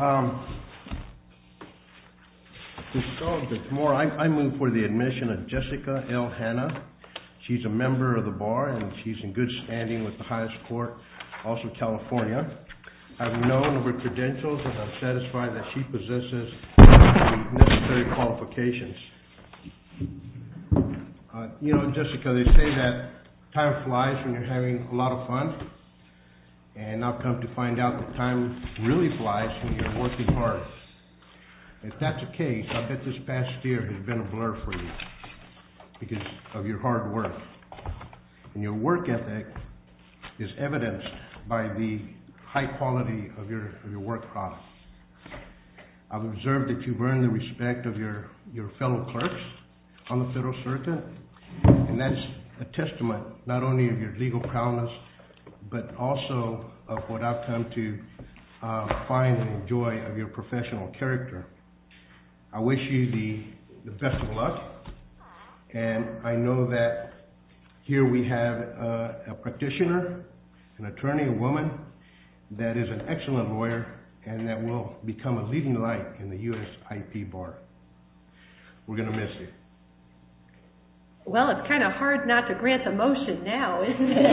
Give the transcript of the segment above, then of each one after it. I move for the admission of Jessica L. Hanna. She's a member of the bar and she's in good standing with the highest court, also California. I've known her credentials and I'm satisfied that she possesses the necessary qualifications. You know, Jessica, they say that time flies when you're having a lot of fun. And I've come to find out that time really flies when you're working hard. If that's the case, I bet this past year has been a blur for you because of your hard work. And your work ethic is evidenced by the high quality of your work products. I've observed that you've earned the respect of your fellow clerks on the federal circuit. And that's a testament not only of your legal prowess, but also of what I've come to find and enjoy of your professional character. I wish you the best of luck. And I know that here we have a practitioner, an attorney, a woman that is an excellent lawyer and that will become a leading light in the USIP bar. We're going to miss you. Well, it's kind of hard not to grant the motion now, isn't it?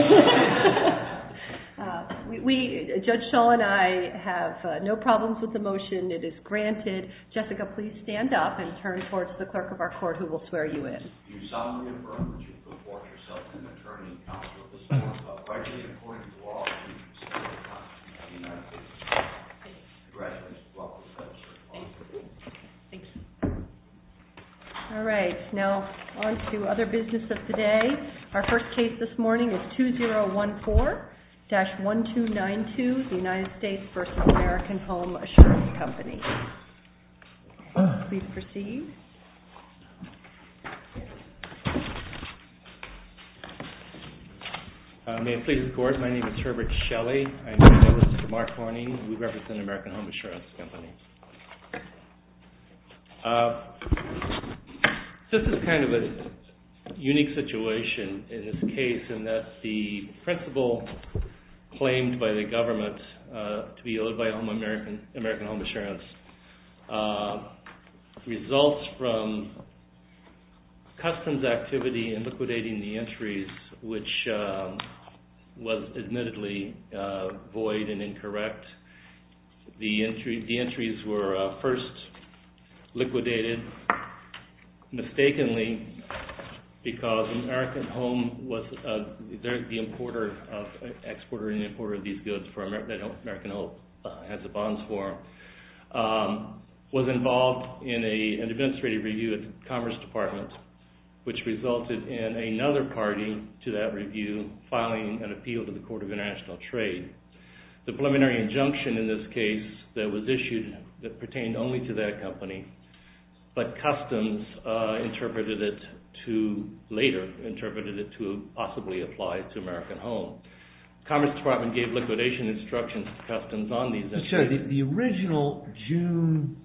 We, Judge Shull and I, have no problems with the motion. It is granted. Jessica, please stand up and turn towards the clerk of our court who will swear you in. You solemnly affirm that you report yourself an attorney and counsel at this court, but, frankly, according to law, you consider yourself not to be a United States attorney. Congratulations. Thank you. All right, now on to other business of the day. Our first case this morning is 2014-1292, the United States vs. American Home Assurance Company. Please proceed. Thank you. May it please the Court, my name is Herbert Shelley. I'm here with Mr. Mark Horning. We represent American Home Assurance Company. This is kind of a unique situation in this case in that the principle claimed by the government to be owed by American Home Assurance results from customs activity in liquidating the entries, which was admittedly void and incorrect. The entries were first liquidated mistakenly because American Home was the exporter and importer of these goods that American Home has the bonds for. I was involved in an administrative review at the Commerce Department, which resulted in another party to that review filing an appeal to the Court of International Trade. The preliminary injunction in this case that was issued pertained only to that company, but customs later interpreted it to possibly apply to American Home. The Commerce Department gave liquidation instructions to customs on these entries. Mr. Shelley, the original June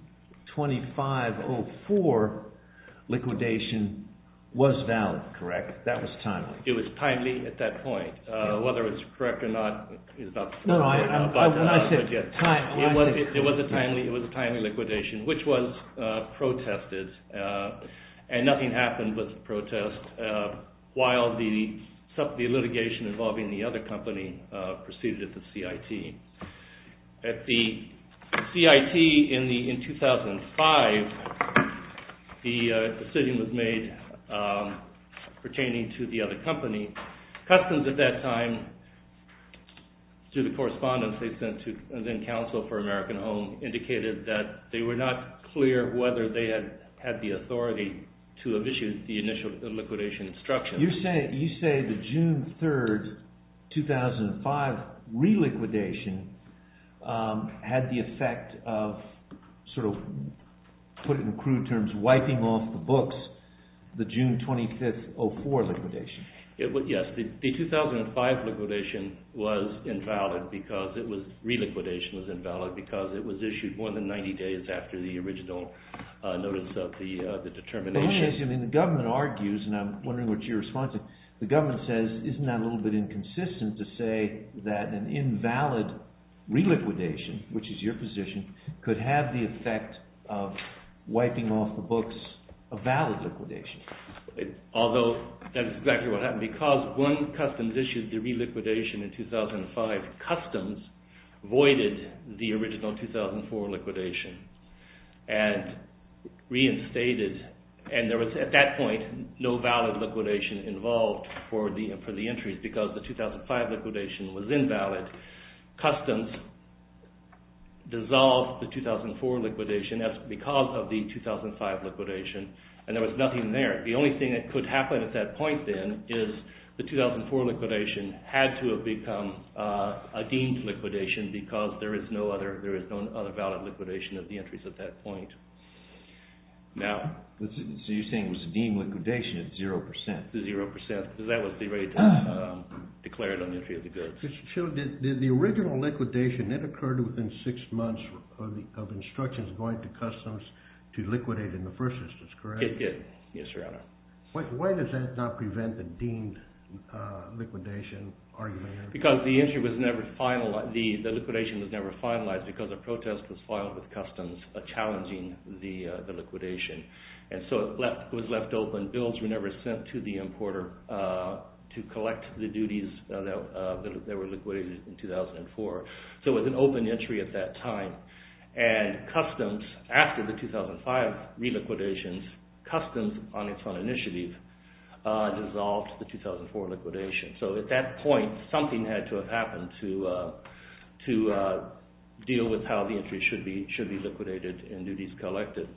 25, 2004 liquidation was valid, correct? That was timely? It was timely at that point. Whether it was correct or not is not the point. It was a timely liquidation, which was protested, and nothing happened with protest while the litigation involving the other company proceeded at the CIT. At the CIT in 2005, the decision was made pertaining to the other company. Customs at that time, through the correspondence they sent to, and then counsel for American Home, indicated that they were not clear whether they had the authority to have issued the initial liquidation instructions. You say the June 3, 2005 re-liquidation had the effect of, put in crude terms, wiping off the books, the June 25, 2004 liquidation. Yes, the 2005 liquidation was invalid, re-liquidation was invalid, because it was issued more than 90 days after the original notice of the determination. The government argues, and I'm wondering what your response is, the government says, isn't that a little bit inconsistent to say that an invalid re-liquidation, which is your position, could have the effect of wiping off the books, a valid liquidation? Although, that is exactly what happened, because when Customs issued the re-liquidation in 2005, Customs voided the original 2004 liquidation and reinstated, and there was, at that point, no valid liquidation involved for the entries because the 2005 liquidation was invalid. Customs dissolved the 2004 liquidation because of the 2005 liquidation, and there was nothing there. The only thing that could happen at that point then is the 2004 liquidation had to have become a deemed liquidation because there is no other valid liquidation of the entries at that point. Now, so you're saying it was a deemed liquidation at 0%? At 0%, because that was the rate declared on the entry of the goods. So did the original liquidation, that occurred within six months of instructions going to Customs to liquidate in the first instance, correct? Yes, Your Honor. Why does that not prevent the deemed liquidation argument? Because the liquidation was never finalized because a protest was filed with Customs challenging the liquidation. And so it was left open. Bills were never sent to the importer to collect the duties that were liquidated in 2004. So it was an open entry at that time. And Customs, after the 2005 re-liquidation, Customs, on its own initiative, dissolved the 2004 liquidation. So at that point, something had to have happened to deal with how the entries should be liquidated and duties collected.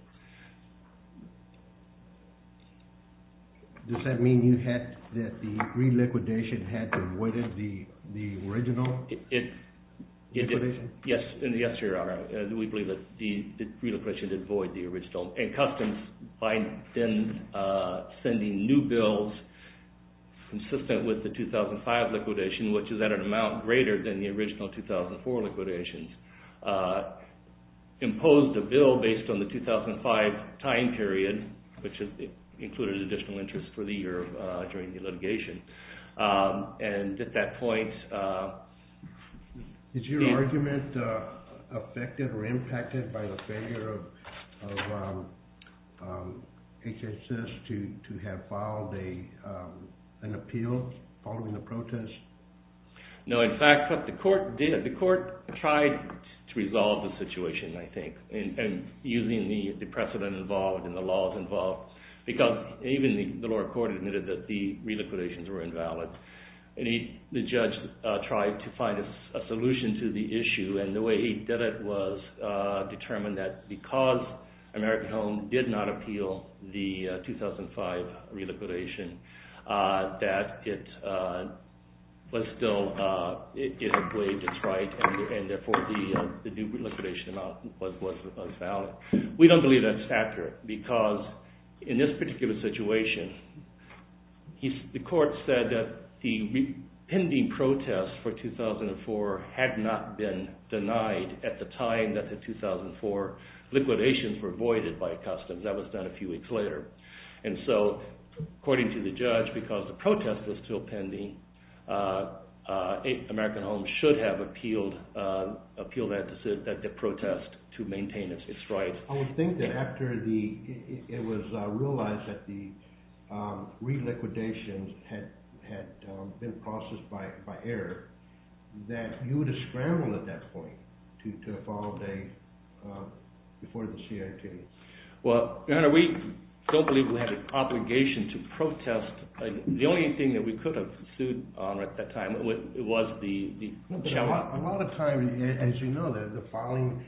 Does that mean that the re-liquidation had to avoid the original liquidation? Yes, Your Honor. We believe that the re-liquidation did avoid the original. And Customs, by then sending new bills consistent with the 2005 liquidation, which is at an amount greater than the original 2004 liquidation, imposed a bill based on the 2005 time period, which included additional interest for the year during the litigation. And at that point... Is your argument affected or impacted by the failure of HHS to have filed an appeal following the protest? No, in fact, what the court did, the court tried to resolve the situation, I think, using the precedent involved and the laws involved. Because even the lower court admitted that the re-liquidations were invalid. The judge tried to find a solution to the issue, and the way he did it was determined that because American Home did not appeal the 2005 re-liquidation, that it was still, it had waived its right, and therefore the due re-liquidation amount was valid. We don't believe that's accurate, because in this particular situation, the court said that the pending protest for 2004 had not been denied at the time that the 2004 liquidations were voided by customs. That was done a few weeks later. And so, according to the judge, because the protest was still pending, American Home should have appealed that protest to maintain its rights. I would think that after it was realized that the re-liquidations had been processed by error, that you would have scrambled at that point to file a, before the CIT. Well, we don't believe we had an obligation to protest. The only thing that we could have sued on at that time was the challenge. A lot of times, as you know, the filing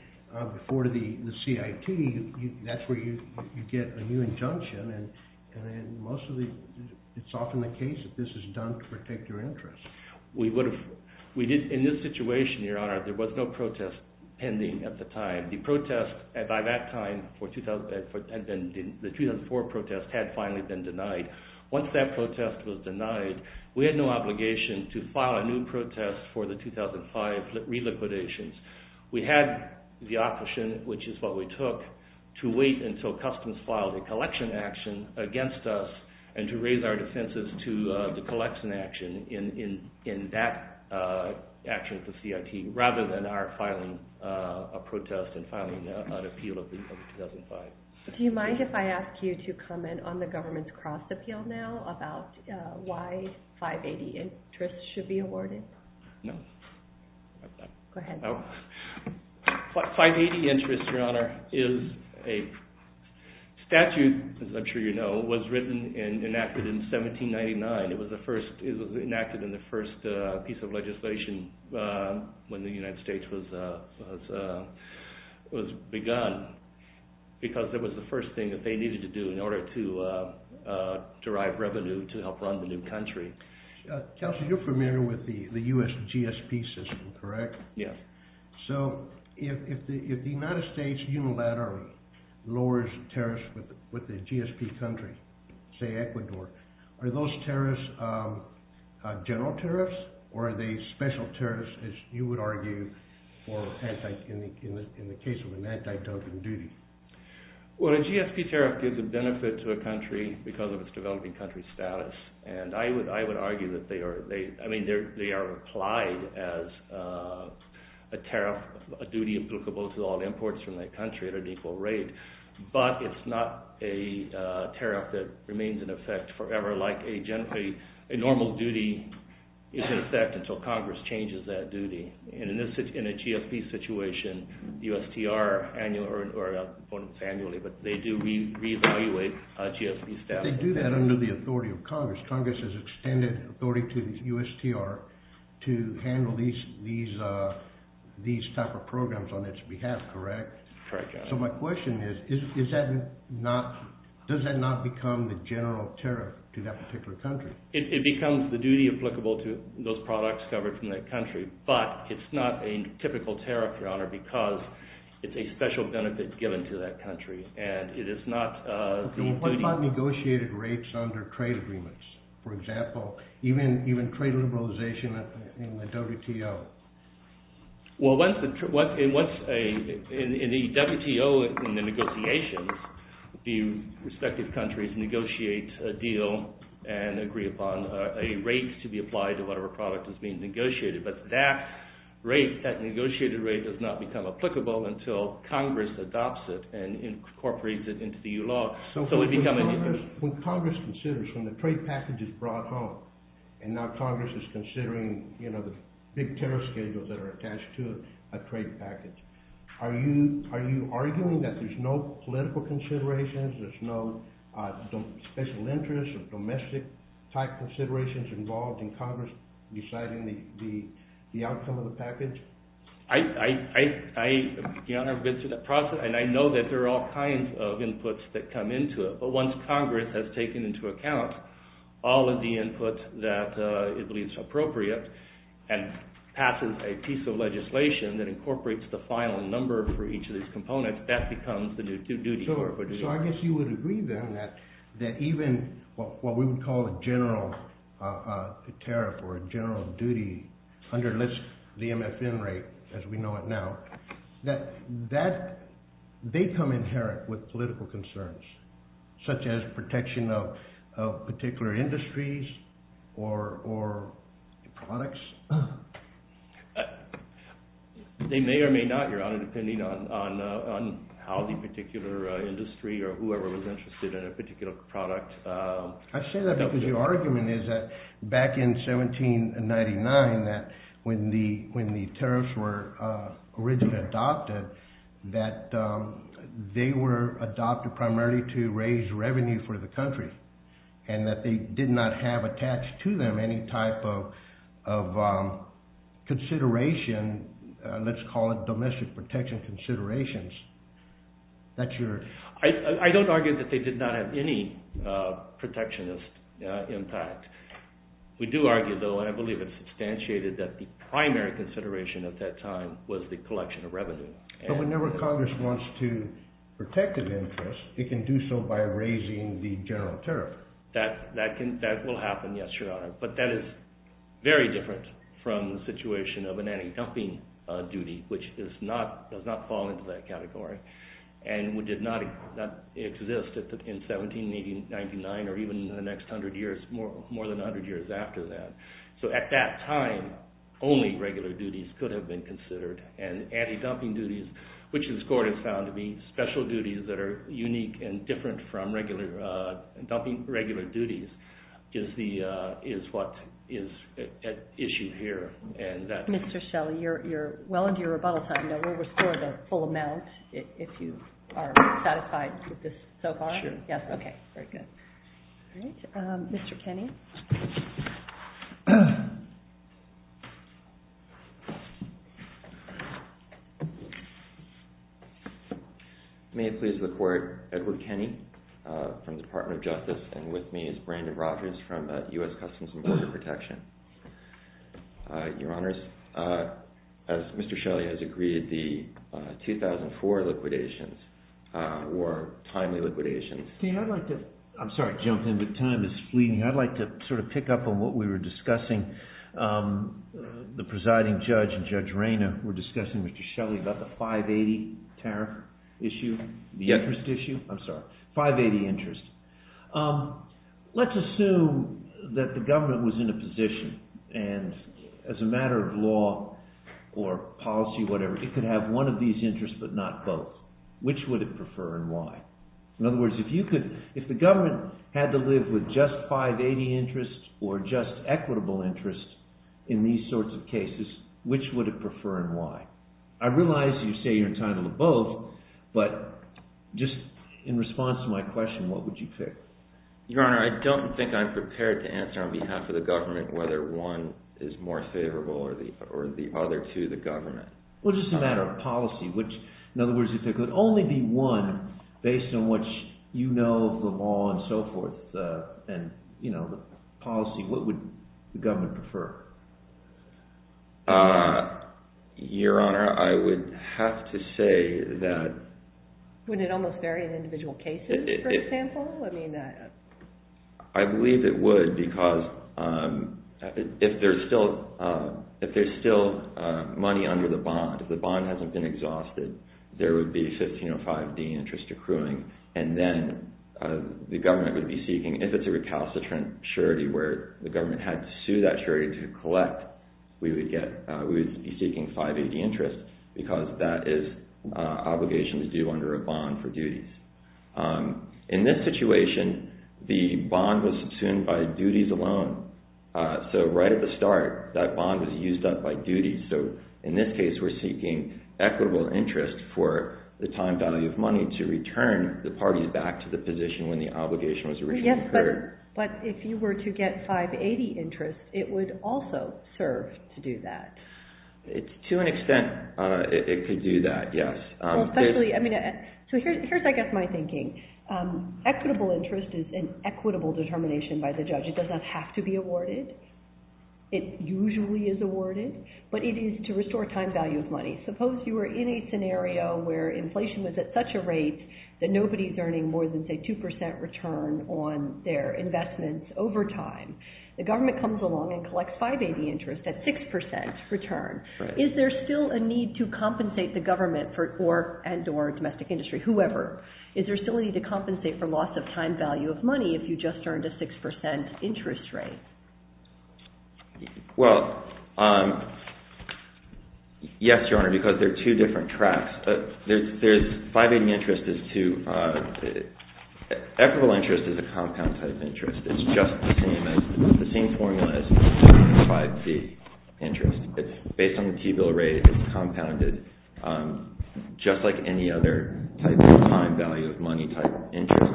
before the CIT, that's where you get a new injunction, and most of the, it's often the case that this is done to protect your interests. In this situation, Your Honor, there was no protest pending at the time. The protest, by that time, the 2004 protest had finally been denied. Once that protest was denied, we had no obligation to file a new protest for the 2005 re-liquidations. We had the option, which is what we took, to wait until customs filed a collection action against us and to raise our defenses to the collection action in that action at the CIT, rather than our filing a protest and filing an appeal of the 2005. Do you mind if I ask you to comment on the government's cross-appeal now about why 580 interests should be awarded? No. Go ahead. 580 interests, Your Honor, is a statute, as I'm sure you know, was written and enacted in 1799. It was enacted in the first piece of legislation when the United States was begun because it was the first thing that they needed to do in order to derive revenue to help run the new country. Counselor, you're familiar with the U.S. GSP system, correct? Yes. So if the United States unilaterally lowers tariffs with the GSP country, say Ecuador, are those tariffs general tariffs or are they special tariffs, as you would argue, in the case of an anti-terrorism duty? Well, a GSP tariff gives a benefit to a country because of its developing country status, and I would argue that they are... I mean, they are applied as a tariff, a duty applicable to all imports from that country at an equal rate, but it's not a tariff that remains in effect forever like a normal duty is in effect until Congress changes that duty. And in a GSP situation, the USTR annually or, I won't say annually, but they do reevaluate GSP status. They do that under the authority of Congress. Congress has extended authority to the USTR to handle these type of programs on its behalf, correct? Correct, Your Honor. So my question is, does that not become the general tariff to that particular country? It becomes the duty applicable to those products covered from that country, but it's not a typical tariff, Your Honor, because it's a special benefit given to that country and it is not the duty... What about negotiated rates under trade agreements? For example, even trade liberalization in the WTO? Well, in the WTO, in the negotiations, the respective countries negotiate a deal and agree upon a rate to be applied to whatever product is being negotiated. But that negotiated rate does not become applicable until Congress adopts it and incorporates it into the EU law. So when Congress considers, when the trade package is brought home and now Congress is considering the big tariff schedules that are attached to a trade package, are you arguing that there's no political considerations, there's no special interests or domestic-type considerations involved in Congress deciding the outcome of the package? Your Honor, I've been through that process and I know that there are all kinds of inputs that come into it, but once Congress has taken into account all of the input that it believes appropriate and passes a piece of legislation that incorporates the final number for each of these components, that becomes the duty. So I guess you would agree then that even what we would call a general tariff or a general duty under the MSN rate, as we know it now, that they come inherent with political concerns, such as protection of particular industries or products? They may or may not, Your Honor, depending on how the particular industry or whoever was interested in a particular product... I say that because your argument is that back in 1799, when the tariffs were originally adopted, that they were adopted primarily to raise revenue for the country and that they did not have attached to them any type of consideration, let's call it domestic protection considerations. I don't argue that they did not have any protectionist impact. We do argue, though, and I believe it's substantiated, that the primary consideration at that time was the collection of revenue. So whenever Congress wants to protect an interest, it can do so by raising the general tariff. That will happen, yes, Your Honor, but that is very different from the situation of an anti-dumping duty, which does not fall into that category and did not exist in 1799 or even in the next 100 years, more than 100 years after that. So at that time, only regular duties could have been considered and anti-dumping duties, which this Court has found to be special duties that are unique and different from regular duties, is what is at issue here. Mr. Shelley, you're well into your rebuttal time. We'll restore the full amount if you are satisfied with this so far. Sure. Okay, very good. Mr. Kenney? May it please the Court, Edward Kenney from the Department of Justice and with me is Brandon Rogers from U.S. Customs and Border Protection. Your Honors, as Mr. Shelley has agreed, the 2004 liquidations were timely liquidations. I'd like to... I'm sorry, I jumped in, but time is fleeting. I'd like to sort of pick up on what we were discussing. The presiding judge and Judge Reyna were discussing with Mr. Shelley about the 580 tariff issue, the interest issue. I'm sorry, 580 interest. Let's assume that the government was in a position and as a matter of law or policy, whatever, it could have one of these interests but not both. Which would it prefer and why? In other words, if the government had to live with just 580 interest or just equitable interest in these sorts of cases, which would it prefer and why? I realize you say you're entitled to both, but just in response to my question, what would you pick? Your Honor, I don't think I'm prepared to answer on behalf of the government whether one is more favorable or the other to the government. Well, just a matter of policy, which in other words, if there could only be one based on what you know of the law and so forth and the policy, what would the government prefer? Your Honor, I would have to say that... Wouldn't it almost vary in individual cases, for example? I believe it would because if there's still money under the bond, if the bond hasn't been exhausted, there would be 1505D interest accruing and then the government would be seeking, if it's a recalcitrant surety where the government had to sue that surety to collect, we would be seeking 580 interest because that is obligations due under a bond for duties. In this situation, the bond was subsumed by duties alone. So right at the start, that bond was used up by duties. So in this case, we're seeking equitable interest for the time value of money to return the parties back to the position when the obligation was originally incurred. Yes, but if you were to get 580 interest, it would also serve to do that. To an extent, it could do that, yes. So here's, I guess, my thinking. Equitable interest is an equitable determination by the judge. It does not have to be awarded. It usually is awarded, but it is to restore time value of money. Suppose you were in a scenario where inflation was at such a rate that nobody's earning more than, say, 2% return on their investments over time. The government comes along and collects 580 interest at 6% return. Is there still a need to compensate the government and or domestic industry, whoever? Is there still a need to compensate for loss of time value of money if you just earned a 6% interest rate? Well, yes, Your Honor, because there are two different tracks. There's 580 interest is to... Equitable interest is a compound type interest. It's just the same formula as 580 interest. It's based on the T-bill rate. It's compounded just like any other type of time value of money type interest.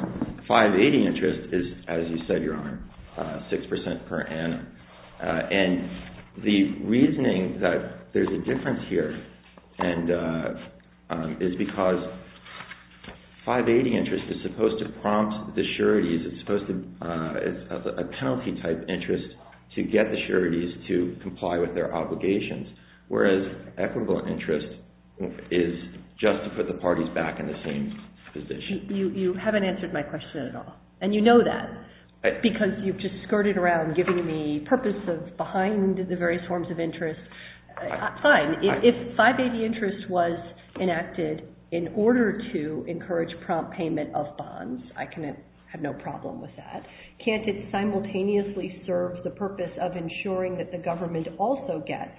580 interest is, as you said, Your Honor, 6% per annum. And the reasoning that there's a difference here is because 580 interest is supposed to prompt the sureties. It's supposed to... It's a penalty type interest to get the sureties to comply with their obligations, whereas equitable interest is just to put the parties back in the same position. You haven't answered my question at all, and you know that because you've just skirted around giving the purpose behind the various forms of interest. Fine. If 580 interest was enacted in order to encourage prompt payment of bonds, I can have no problem with that. Can't it simultaneously serve the purpose of ensuring that the government also gets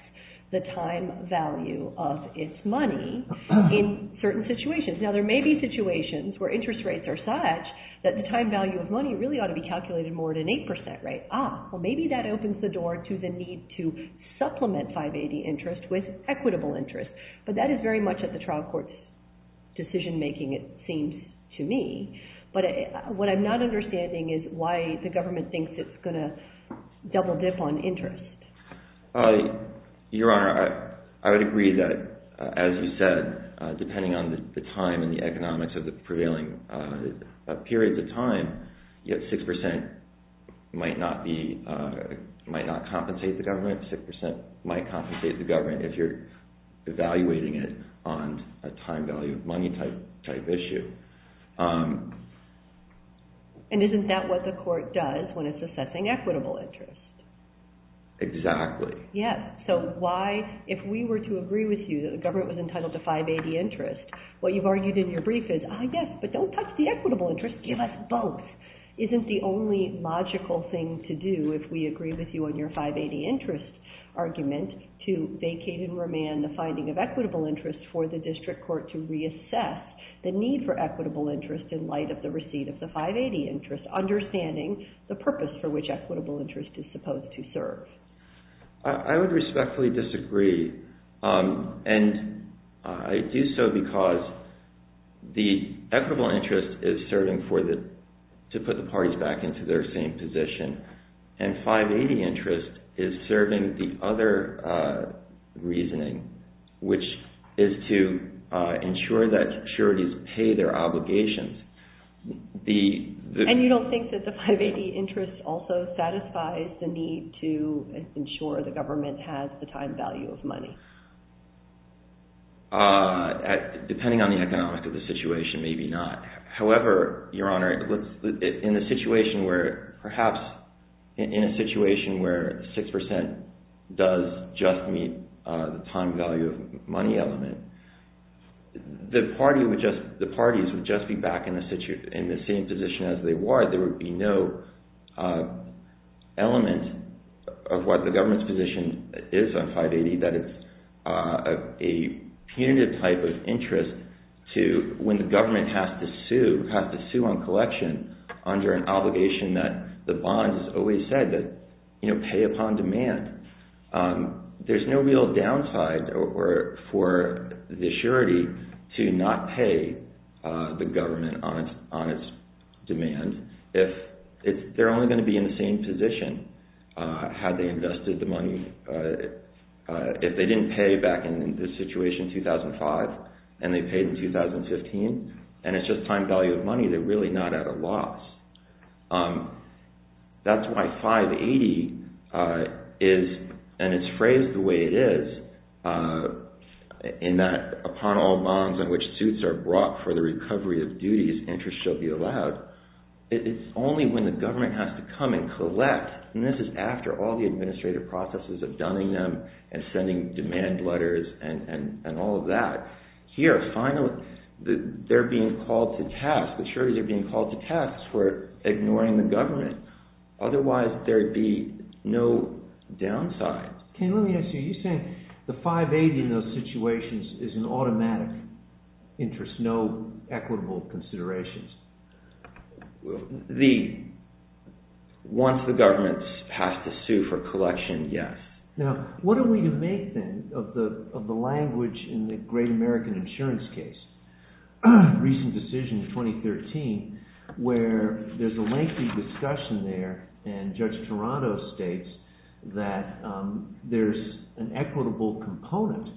the time value of its money in certain situations? Now, there may be situations where interest rates are such that the time value of money really ought to be calculated more at an 8% rate. Ah, well, maybe that opens the door to the need to supplement 580 interest with equitable interest. But that is very much at the trial court's decision-making, it seems to me. But what I'm not understanding is why the government thinks it's going to double dip on interest. Your Honor, I would agree that, as you said, depending on the time and the economics of the prevailing periods of time, 6% might not compensate the government. 6% might compensate the government if you're evaluating it on a time value of money type issue. And isn't that what the court does when it's assessing equitable interest? Exactly. Yes. So why, if we were to agree with you that the government was entitled to 580 interest, what you've argued in your brief is, ah, yes, but don't touch the equitable interest. Give us both. Isn't the only logical thing to do, if we agree with you on your 580 interest argument, to vacate and remand the finding of equitable interest for the district court to reassess the need for equitable interest in light of the receipt of the 580 interest, understanding the purpose for which equitable interest is supposed to serve? I would respectfully disagree. And I do so because the equitable interest is serving to put the parties back into their same position, and 580 interest is serving the other reasoning, which is to ensure that securities pay their obligations. And you don't think that the 580 interest also satisfies the need to ensure that the government has the time value of money? Depending on the economics of the situation, maybe not. However, Your Honor, in a situation where perhaps, in a situation where 6% does just meet the time value of money element, the parties would just be back in the same position as they were. There would be no element of what the government's position is on 580 that is a punitive type of interest to when the government has to sue, has to sue on collection under an obligation that the bond has always said that, you know, pay upon demand. There's no real downside for the surety to not pay the government on its demand if they're only going to be in the same position had they invested the money. If they didn't pay back in this situation in 2005 and they paid in 2015, and it's just time value of money, they're really not at a loss. That's why 580 is, and it's phrased the way it is, in that upon all bonds on which suits are brought for the recovery of duties, interest shall be allowed. It's only when the government has to come and collect, and this is after all the administrative processes of dunning them and sending demand letters and all of that. Here, finally, they're being called to task, the sureties are being called to task for ignoring the government. Otherwise, there'd be no downside. Ken, let me ask you, you're saying the 580 in those situations is an automatic interest, there's no equitable considerations? Once the government has to sue for collection, yes. Now, what are we to make, then, of the language in the Great American Insurance case, recent decision in 2013, where there's a lengthy discussion there and Judge Toronto states that there's an equitable component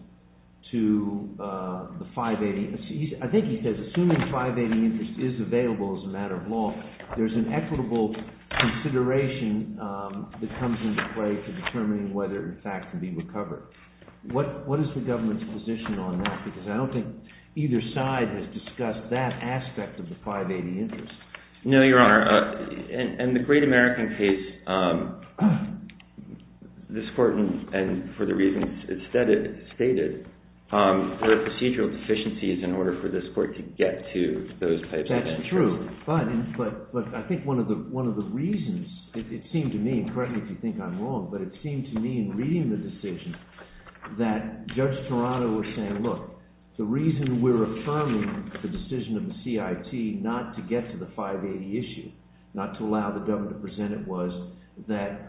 to the 580. I think he says, assuming the 580 interest is available as a matter of law, there's an equitable consideration that comes into play to determining whether, in fact, it can be recovered. What is the government's position on that? Because I don't think either side has discussed that aspect of the 580 interest. No, Your Honor. In the Great American case, this court, and for the reasons it stated, there are procedural deficiencies in order for this court to get to those types of interest. That's true, but I think one of the reasons, it seemed to me, and correct me if you think I'm wrong, but it seemed to me in reading the decision that Judge Toronto was saying, look, the reason we're affirming the decision of the CIT not to get to the 580 issue, not to allow the government to present it was that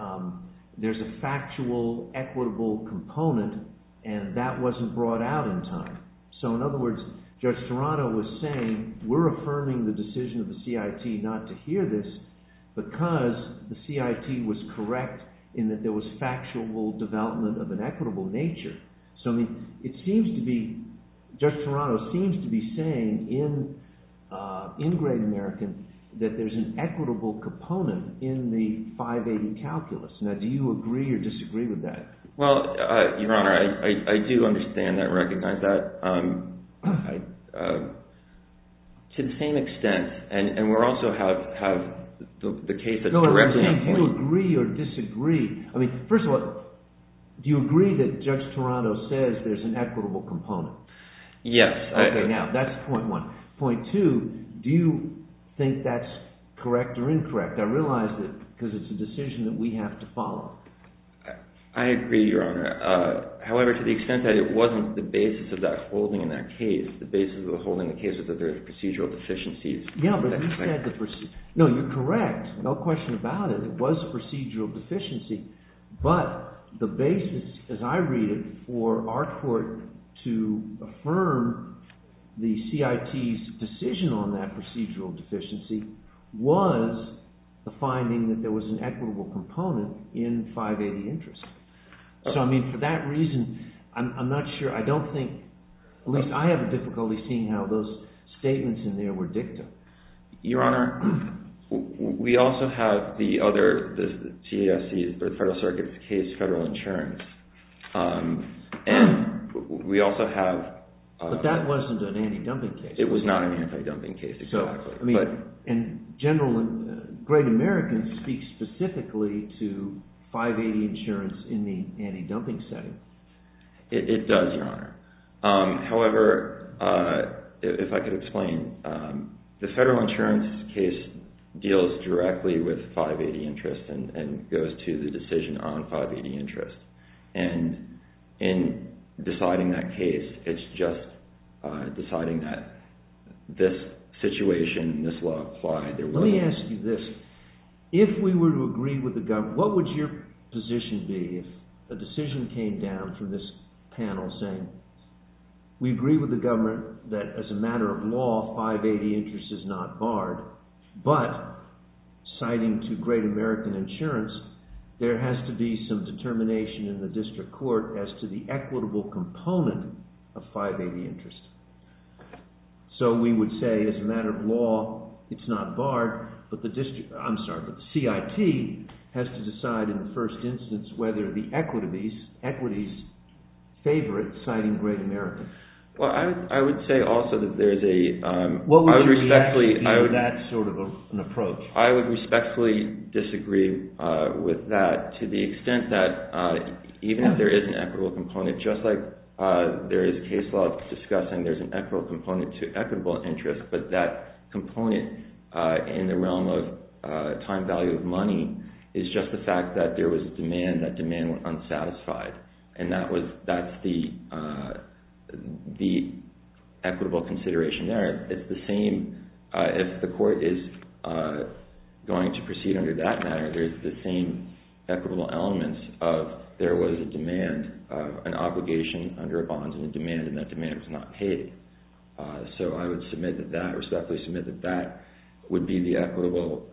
there's a factual, equitable component, and that wasn't brought out in time. So in other words, Judge Toronto was saying, we're affirming the decision of the CIT not to hear this because the CIT was correct in that there was factual development of an equitable nature. So it seems to be, Judge Toronto seems to be saying in Great American that there's an equitable component in the 580 calculus. Now, do you agree or disagree with that? Well, Your Honor, I do understand that, recognize that. To the same extent, and we also have the case that... No, I'm saying do you agree or disagree. I mean, first of all, do you agree that Judge Toronto says there's an equitable component? Yes. Okay, now, that's point one. Point two, do you think that's correct or incorrect? I realize that because it's a decision that we have to follow. I agree, Your Honor. However, to the extent that it wasn't the basis of that holding in that case, the basis of the holding in the case was that there was procedural deficiencies. Yeah, but you said the... No, you're correct. No question about it. It was procedural deficiency, but the basis, as I read it, for our court to affirm the CIT's decision on that procedural deficiency was the finding that there was an equitable component in 580 interest. So, I mean, for that reason, I'm not sure. I don't think, at least I have difficulty seeing how those statements in there were dicta. Your Honor, we also have the other, the TASC, the Federal Circuit's case, federal insurance, and we also have... But that wasn't an anti-dumping case. It was not an anti-dumping case, exactly. So, I mean, in general, Great Americans speak specifically to 580 insurance in the anti-dumping setting. It does, Your Honor. However, if I could explain, the federal insurance case deals directly with 580 interest and goes to the decision on 580 interest. And in deciding that case, it's just deciding that this situation, this law applied. Let me ask you this. If we were to agree with the government, what would your position be if a decision came down from this panel saying we agree with the government that as a matter of law, 580 interest is not barred, but citing to Great American Insurance, there has to be some determination in the district court as to the equitable component of 580 interest. So we would say as a matter of law, it's not barred, but the district... I'm sorry, but the CIT has to decide in the first instance whether the equities favor it, citing Great American. Well, I would say also that there's a... What would be that sort of an approach? I would respectfully disagree with that to the extent that even if there is an equitable component, just like there is a case law discussing there's an equitable component to equitable interest, but that component in the realm of time value of money is just the fact that there was demand, that demand went unsatisfied, and that's the equitable consideration there. It's the same... If the court is going to proceed under that matter, there's the same equitable elements of there was a demand, an obligation under a bond and a demand, and that demand was not paid. So I would respectfully submit that that would be the equitable...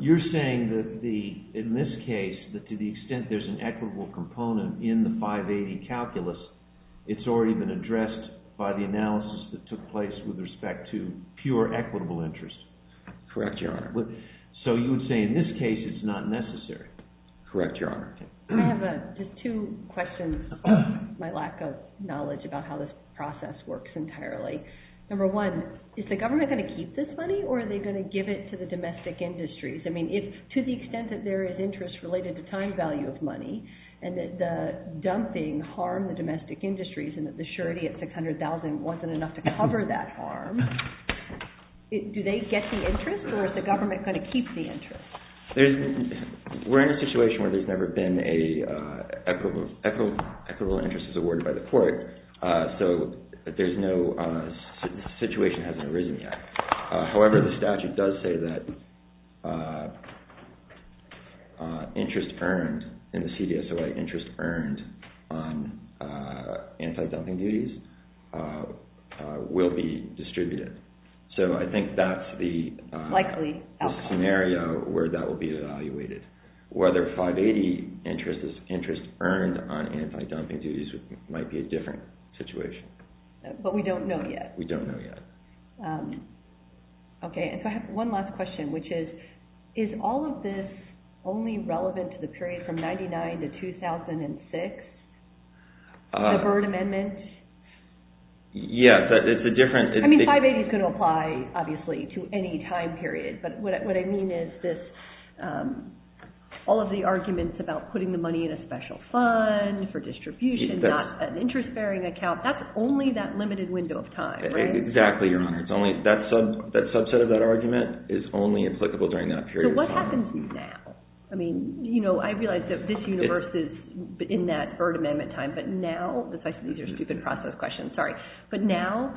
You're saying that in this case, to the extent there's an equitable component in the 580 calculus, it's already been addressed by the analysis that took place with respect to pure equitable interest? Correct, Your Honor. So you would say in this case, it's not necessary? Correct, Your Honor. I have two questions. My lack of knowledge about how this process works entirely. Number one, is the government going to keep this money or are they going to give it to the domestic industries? I mean, to the extent that there is interest related to time value of money and that the dumping harmed the domestic industries and that the surety at $600,000 wasn't enough to cover that harm, do they get the interest or is the government going to keep the interest? We're in a situation where there's never been an equitable interest awarded by the court. So there's no... The situation hasn't arisen yet. However, the statute does say that interest earned in the CDSOA, interest earned on anti-dumping duties will be distributed. So I think that's the... Likely outcome. ...scenario where that will be evaluated. Whether 580 interest is interest earned on anti-dumping duties might be a different situation. But we don't know yet. We don't know yet. Okay, and so I have one last question, which is, is all of this only relevant to the period from 1999 to 2006? The Byrd Amendment? Yeah, but it's a different... I mean, 580 is going to apply, obviously, to any time period. But what I mean is this all of the arguments about putting the money in a special fund for distribution, not an interest-bearing account, that's only that limited window of time, right? Exactly, Your Honor. It's only... That subset of that argument is only applicable during that period of time. So what happens now? I mean, you know, I realize that this universe is in that Byrd Amendment time, but now... These are stupid process questions, sorry. But now,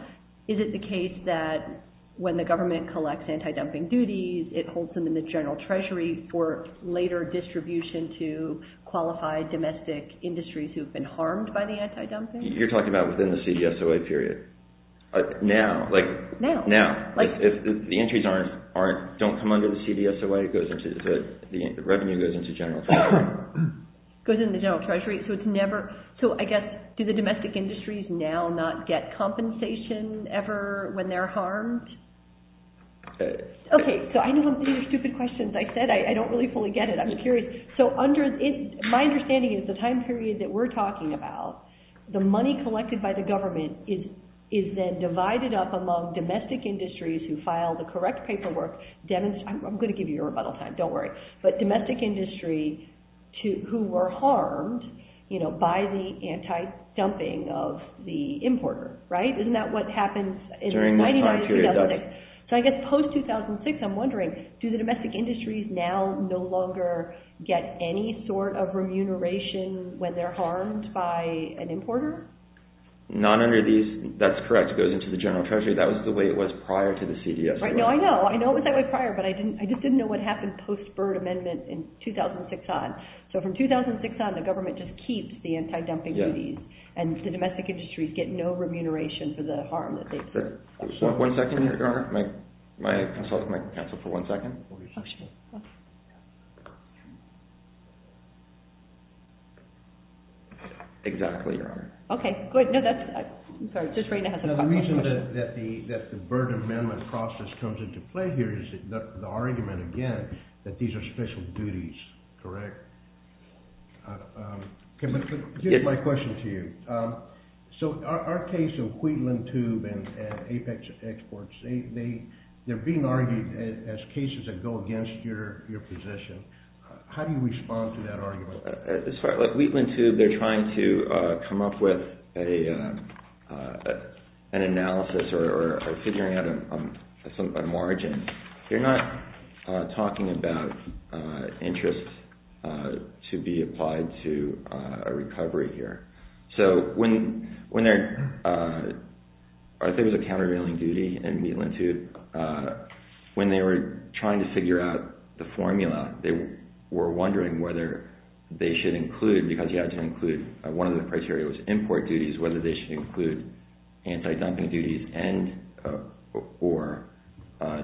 is it the case that when the government collects anti-dumping duties, it holds them in the General Treasury for later distribution to qualified domestic industries who've been harmed by the anti-dumping? You're talking about within the CBSOA period? Now? Now. If the entries don't come under the CBSOA, it goes into... The revenue goes into the General Treasury. Goes into the General Treasury, so it's never... So I guess, do the domestic industries now not get compensation ever when they're harmed? Okay, so I know these are stupid questions. I said I don't really fully get it. I'm just curious. So under... My understanding is the time period that we're talking about, the money collected by the government is then divided up among domestic industries who file the correct paperwork... I'm going to give you a rebuttal time. Don't worry. But domestic industry who were harmed by the anti-dumping of the importer, right? Isn't that what happens... During this time period. So I guess post-2006, I'm wondering, do the domestic industries now no longer get any sort of remuneration when they're harmed by an importer? Not under these... That's correct. It goes into the General Treasury. That was the way it was prior to the CBSOA. I know, I know. I know it was that way prior, but I just didn't know what happened post-Byrd Amendment in 2006 on. So from 2006 on, the government just keeps the anti-dumping duties, and the domestic industries get no remuneration for the harm that they've... One second here, Governor. My consultant might cancel for one second. Exactly, Your Honor. Okay, good. No, that's... I'm sorry. The reason that the Byrd Amendment process comes into play here is the argument, again, that these are special duties, correct? Here's my question to you. So our case of Wheatland Tube and Apex Exports, they're being argued as cases that go against your position. How do you respond to that argument? Like Wheatland Tube, they're trying to come up with an analysis or figuring out a margin. They're not talking about interest to be applied to a recovery here. So when they're... I think it was a countervailing duty in Wheatland Tube. When they were trying to figure out the formula, they were wondering whether they should include, because you had to include one of the criteria was import duties, whether they should include anti-dumping duties and... or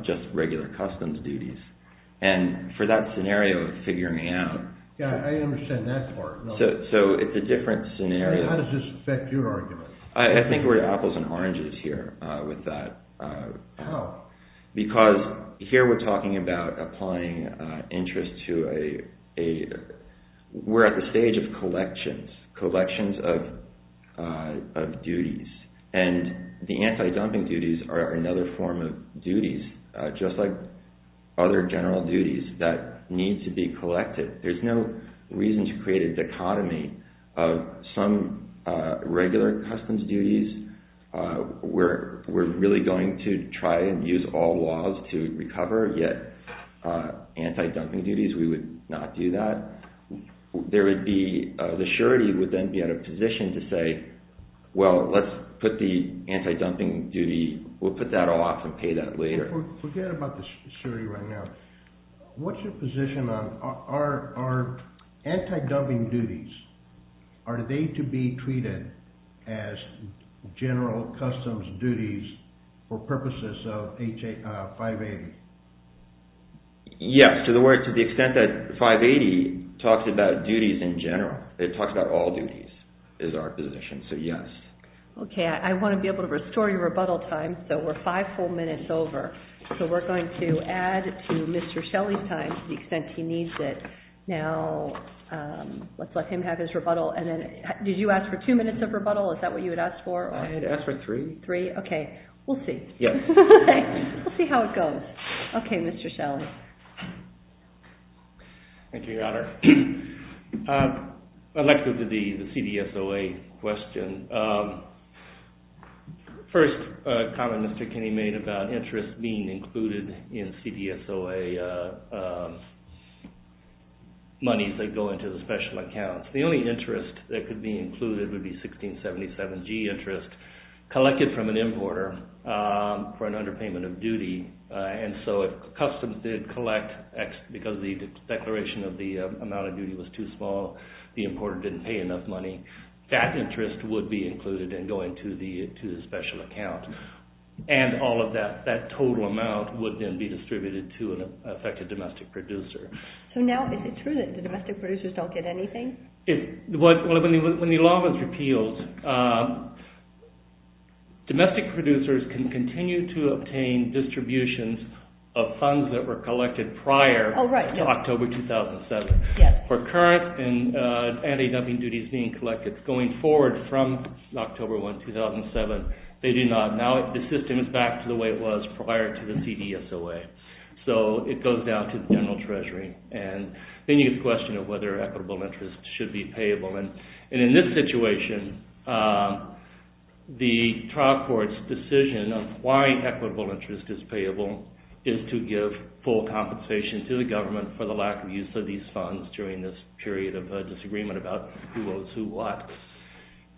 just regular customs duties. And for that scenario of figuring it out... Yeah, I understand that part. So it's a different scenario. How does this affect your argument? I think we're apples and oranges here with that. How? Because here we're talking about applying interest to a... We're at the stage of collections. Collections of duties. And the anti-dumping duties are another form of duties, just like other general duties that need to be collected. There's no reason to create a dichotomy of some regular customs duties. We're really going to try and use all laws to recover, yet anti-dumping duties, we would not do that. There would be... The surety would then be at a position to say, well, let's put the anti-dumping duty... We'll put that all off and pay that later. Forget about the surety right now. What's your position on our anti-dumping duties? Are they to be treated as general customs duties for purposes of 580? Yes, to the extent that 580 talks about duties in general. It talks about all duties is our position, so yes. Okay, I want to be able to restore your rebuttal time, so we're five full minutes over. So we're going to add to Mr. Shelley's time to the extent he needs it. Now, let's let him have his rebuttal. Did you ask for two minutes of rebuttal? Is that what you had asked for? I had asked for three. Three? Okay, we'll see. Yes. We'll see how it goes. Okay, Mr. Shelley. Thank you, Your Honor. I'd like to do the CDSOA question. First, a comment Mr. Kinney made about interest being included in CDSOA monies that go into the special accounts. The only interest that could be included would be 1677G interest collected from an importer for an underpayment of duty, and so if customs did collect, because the declaration of the amount of duty was too small, the importer didn't pay enough money, that interest would be included in going to the special account, and all of that total amount would then be distributed to an affected domestic producer. So now is it true that the domestic producers don't get anything? When the law was repealed, domestic producers can continue to obtain distributions of funds that were collected prior to October 2007. Yes. For current and anti-dumping duties being collected going forward from October 1, 2007, they do not. Now the system is back to the way it was prior to the CDSOA. So it goes down to the general treasury, and then you question whether equitable interest should be payable, and in this situation, the trial court's decision of why equitable interest is payable is to give full compensation to the government for the lack of use of these funds during this period of disagreement about who owes who what.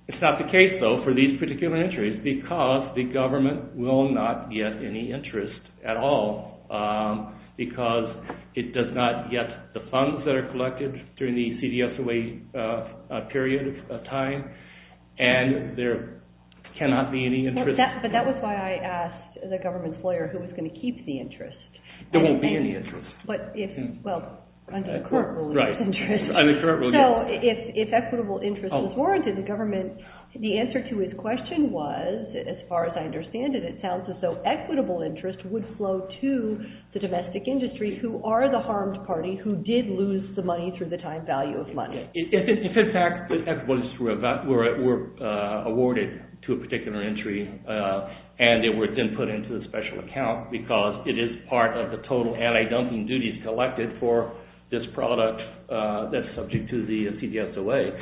It's not the case, though, for these particular entries, because the government will not get any interest at all, because it does not get the funds that are collected during the CDSOA period of time, and there cannot be any interest. But that was why I asked the government's lawyer who was going to keep the interest. There won't be any interest. Well, under the current rule, there is interest. So if equitable interest is warranted, the government, the answer to his question was, as far as I understand it, it sounds as though equitable interest would flow to the domestic industry who are the harmed party who did lose the money through the time value of money. If, in fact, the equitables were awarded to a particular entry and they were then put into a special account because it is part of the total anti-dumping duties collected for this product that's subject to the CDSOA,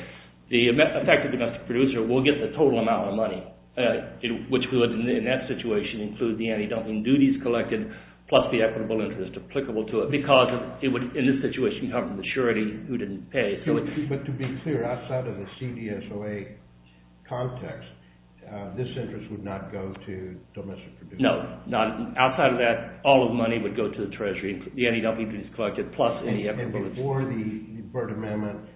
the affected domestic producer will get the total amount of money, which would, in that situation, include the anti-dumping duties collected plus the equitable interest applicable to it, because it would, in this situation, cover the surety who didn't pay. But to be clear, outside of the CDSOA context, this interest would not go to domestic producers? No. Outside of that, all of the money would go to the treasury, the anti-dumping duties collected plus any equitable interest. And before the Burt Amendment,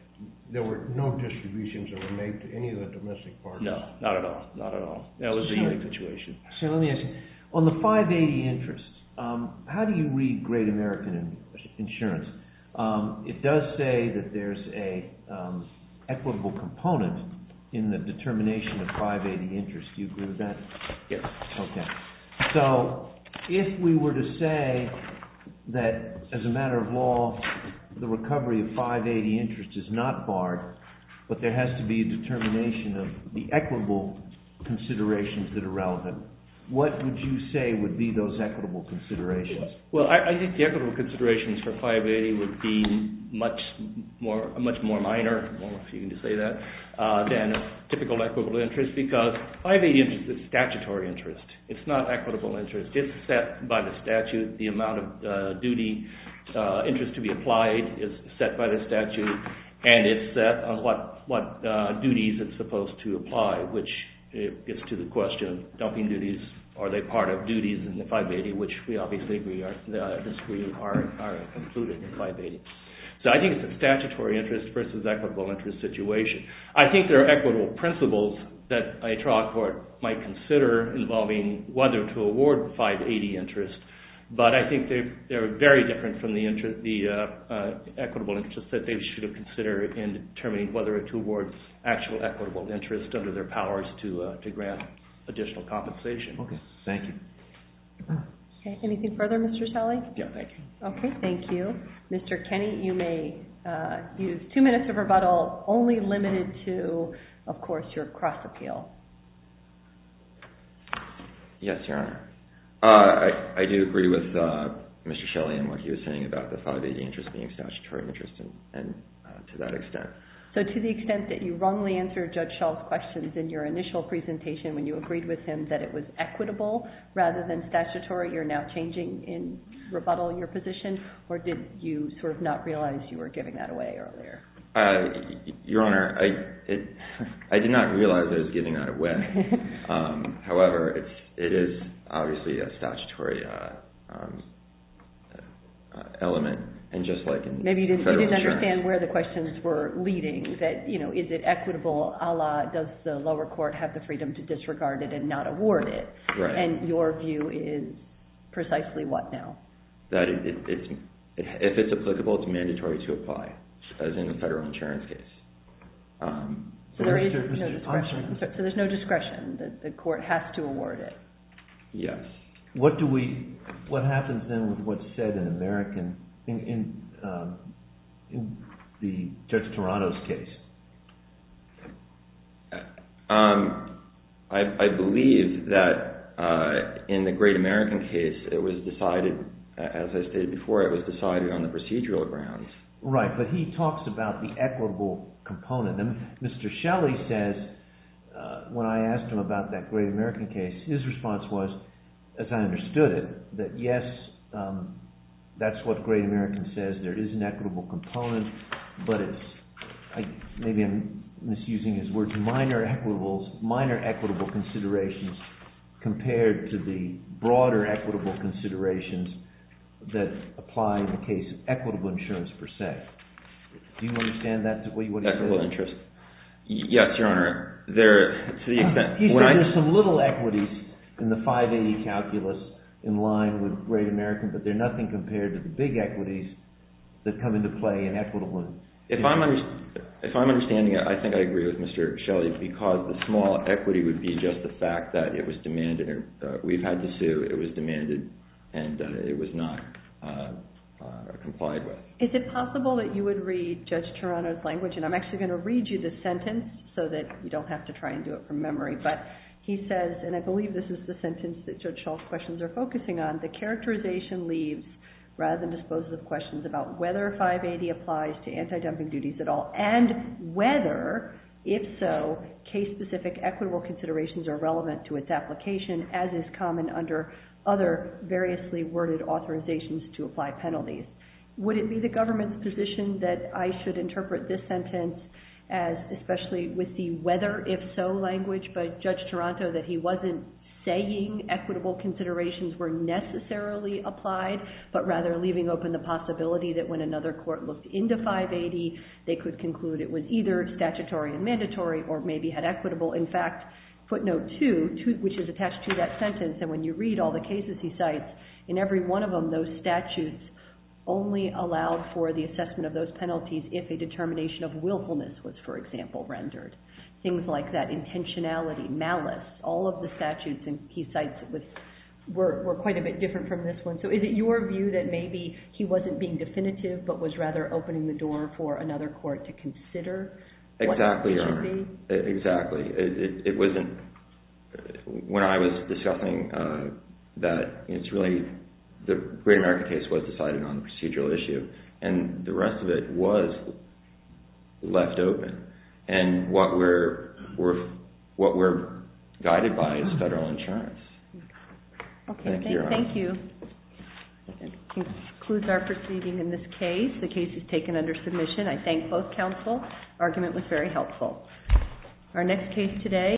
there were no distributions that were made to any of the domestic partners? No. Not at all. Not at all. That was the only situation. So let me ask you, on the 580 interest, how do you read Great American Insurance? It does say that there's an equitable component in the determination of 580 interest. Do you agree with that? Yes. Okay. So if we were to say that, as a matter of law, the recovery of 580 interest is not barred, but there has to be a determination of the equitable considerations that are relevant, what would you say would be those equitable considerations? Well, I think the equitable considerations for 580 would be much more minor, if you can say that, than a typical equitable interest, because 580 interest is statutory interest. It's not equitable interest. It's set by the statute. The amount of interest to be applied is set by the statute, and it's set on what duties it's supposed to apply, which gets to the question of dumping duties. Are they part of duties in the 580, which we obviously agree are included in the 580. So I think it's a statutory interest versus equitable interest situation. I think there are equitable principles that a trial court might consider involving whether to award 580 interest, but I think they're very different from the equitable interest that they should have considered in determining whether to award actual equitable interest under their powers to grant additional compensation. Okay. Thank you. Okay. Anything further, Mr. Shelley? Yeah. Thank you. Okay. Thank you. Mr. Kenney, you may use two minutes of rebuttal, only limited to, of course, your cross-appeal. Yes, Your Honor. I do agree with Mr. Shelley and what he was saying about the 580 interest being statutory interest and to that extent. So to the extent that you wrongly answered Judge Shull's questions in your initial presentation when you agreed with him that it was equitable rather than statutory, you're now changing in rebuttal your position, or did you sort of not realize you were giving that away earlier? Your Honor, I did not realize I was giving that away. However, it is obviously a statutory element. Maybe you didn't understand where the questions were leading, that, you know, is it equitable, a la does the lower court have the freedom to disregard it and not award it? Right. And your view is precisely what now? That if it's applicable, it's mandatory to apply, as in the federal insurance case. So there's no discretion. The court has to award it. Yes. What happens then with what's said in the Judge Toronto's case? I believe that in the Great American case, it was decided, as I stated before, it was decided on the procedural grounds. Right, but he talks about the equitable component. Mr. Shelley says, when I asked him about that Great American case, his response was, as I understood it, that yes, that's what Great American says, there is an equitable component, but it's, maybe I'm misusing his words, minor equitable considerations compared to the broader equitable considerations that apply in the case of equitable insurance per se. Do you understand that? Equitable interest. Yes, Your Honor. There are some little equities in the 580 calculus in line with Great American, but they're nothing compared to the big equities that come into play in equitable insurance. If I'm understanding it, I think I agree with Mr. Shelley, because the small equity would be just the fact that it was demanded, we've had to sue, it was demanded, and it was not complied with. Is it possible that you would read Judge Toronto's language, and I'm actually going to read you the sentence so that you don't have to try and do it from memory, but he says, and I believe this is the sentence that Judge Schall's questions are focusing on, the characterization leaves, rather than disposes of questions, about whether 580 applies to anti-dumping duties at all, and whether, if so, case-specific equitable considerations are relevant to its application, as is common under other variously worded authorizations to apply penalties. Would it be the government's position that I should interpret this sentence as especially with the whether-if-so language by Judge Toronto, that he wasn't saying equitable considerations were necessarily applied, but rather leaving open the possibility that when another court looked into 580, they could conclude it was either statutory and mandatory or maybe had equitable, in fact, footnote 2, which is attached to that sentence, and when you read all the cases he cites, in every one of them those statutes only allowed for the assessment of those penalties if a determination of willfulness was, for example, rendered. Things like that, intentionality, malice, all of the statutes he cites were quite a bit different from this one. So is it your view that maybe he wasn't being definitive but was rather opening the door for another court to consider what it should be? Exactly, Your Honor. Exactly. It wasn't... When I was discussing that, it's really the Great American case was decided on the procedural issue, and the rest of it was left open, and what we're guided by is federal insurance. Okay, thank you. That concludes our proceeding in this case. The case is taken under submission. I thank both counsel. The argument was very helpful. Our next case today...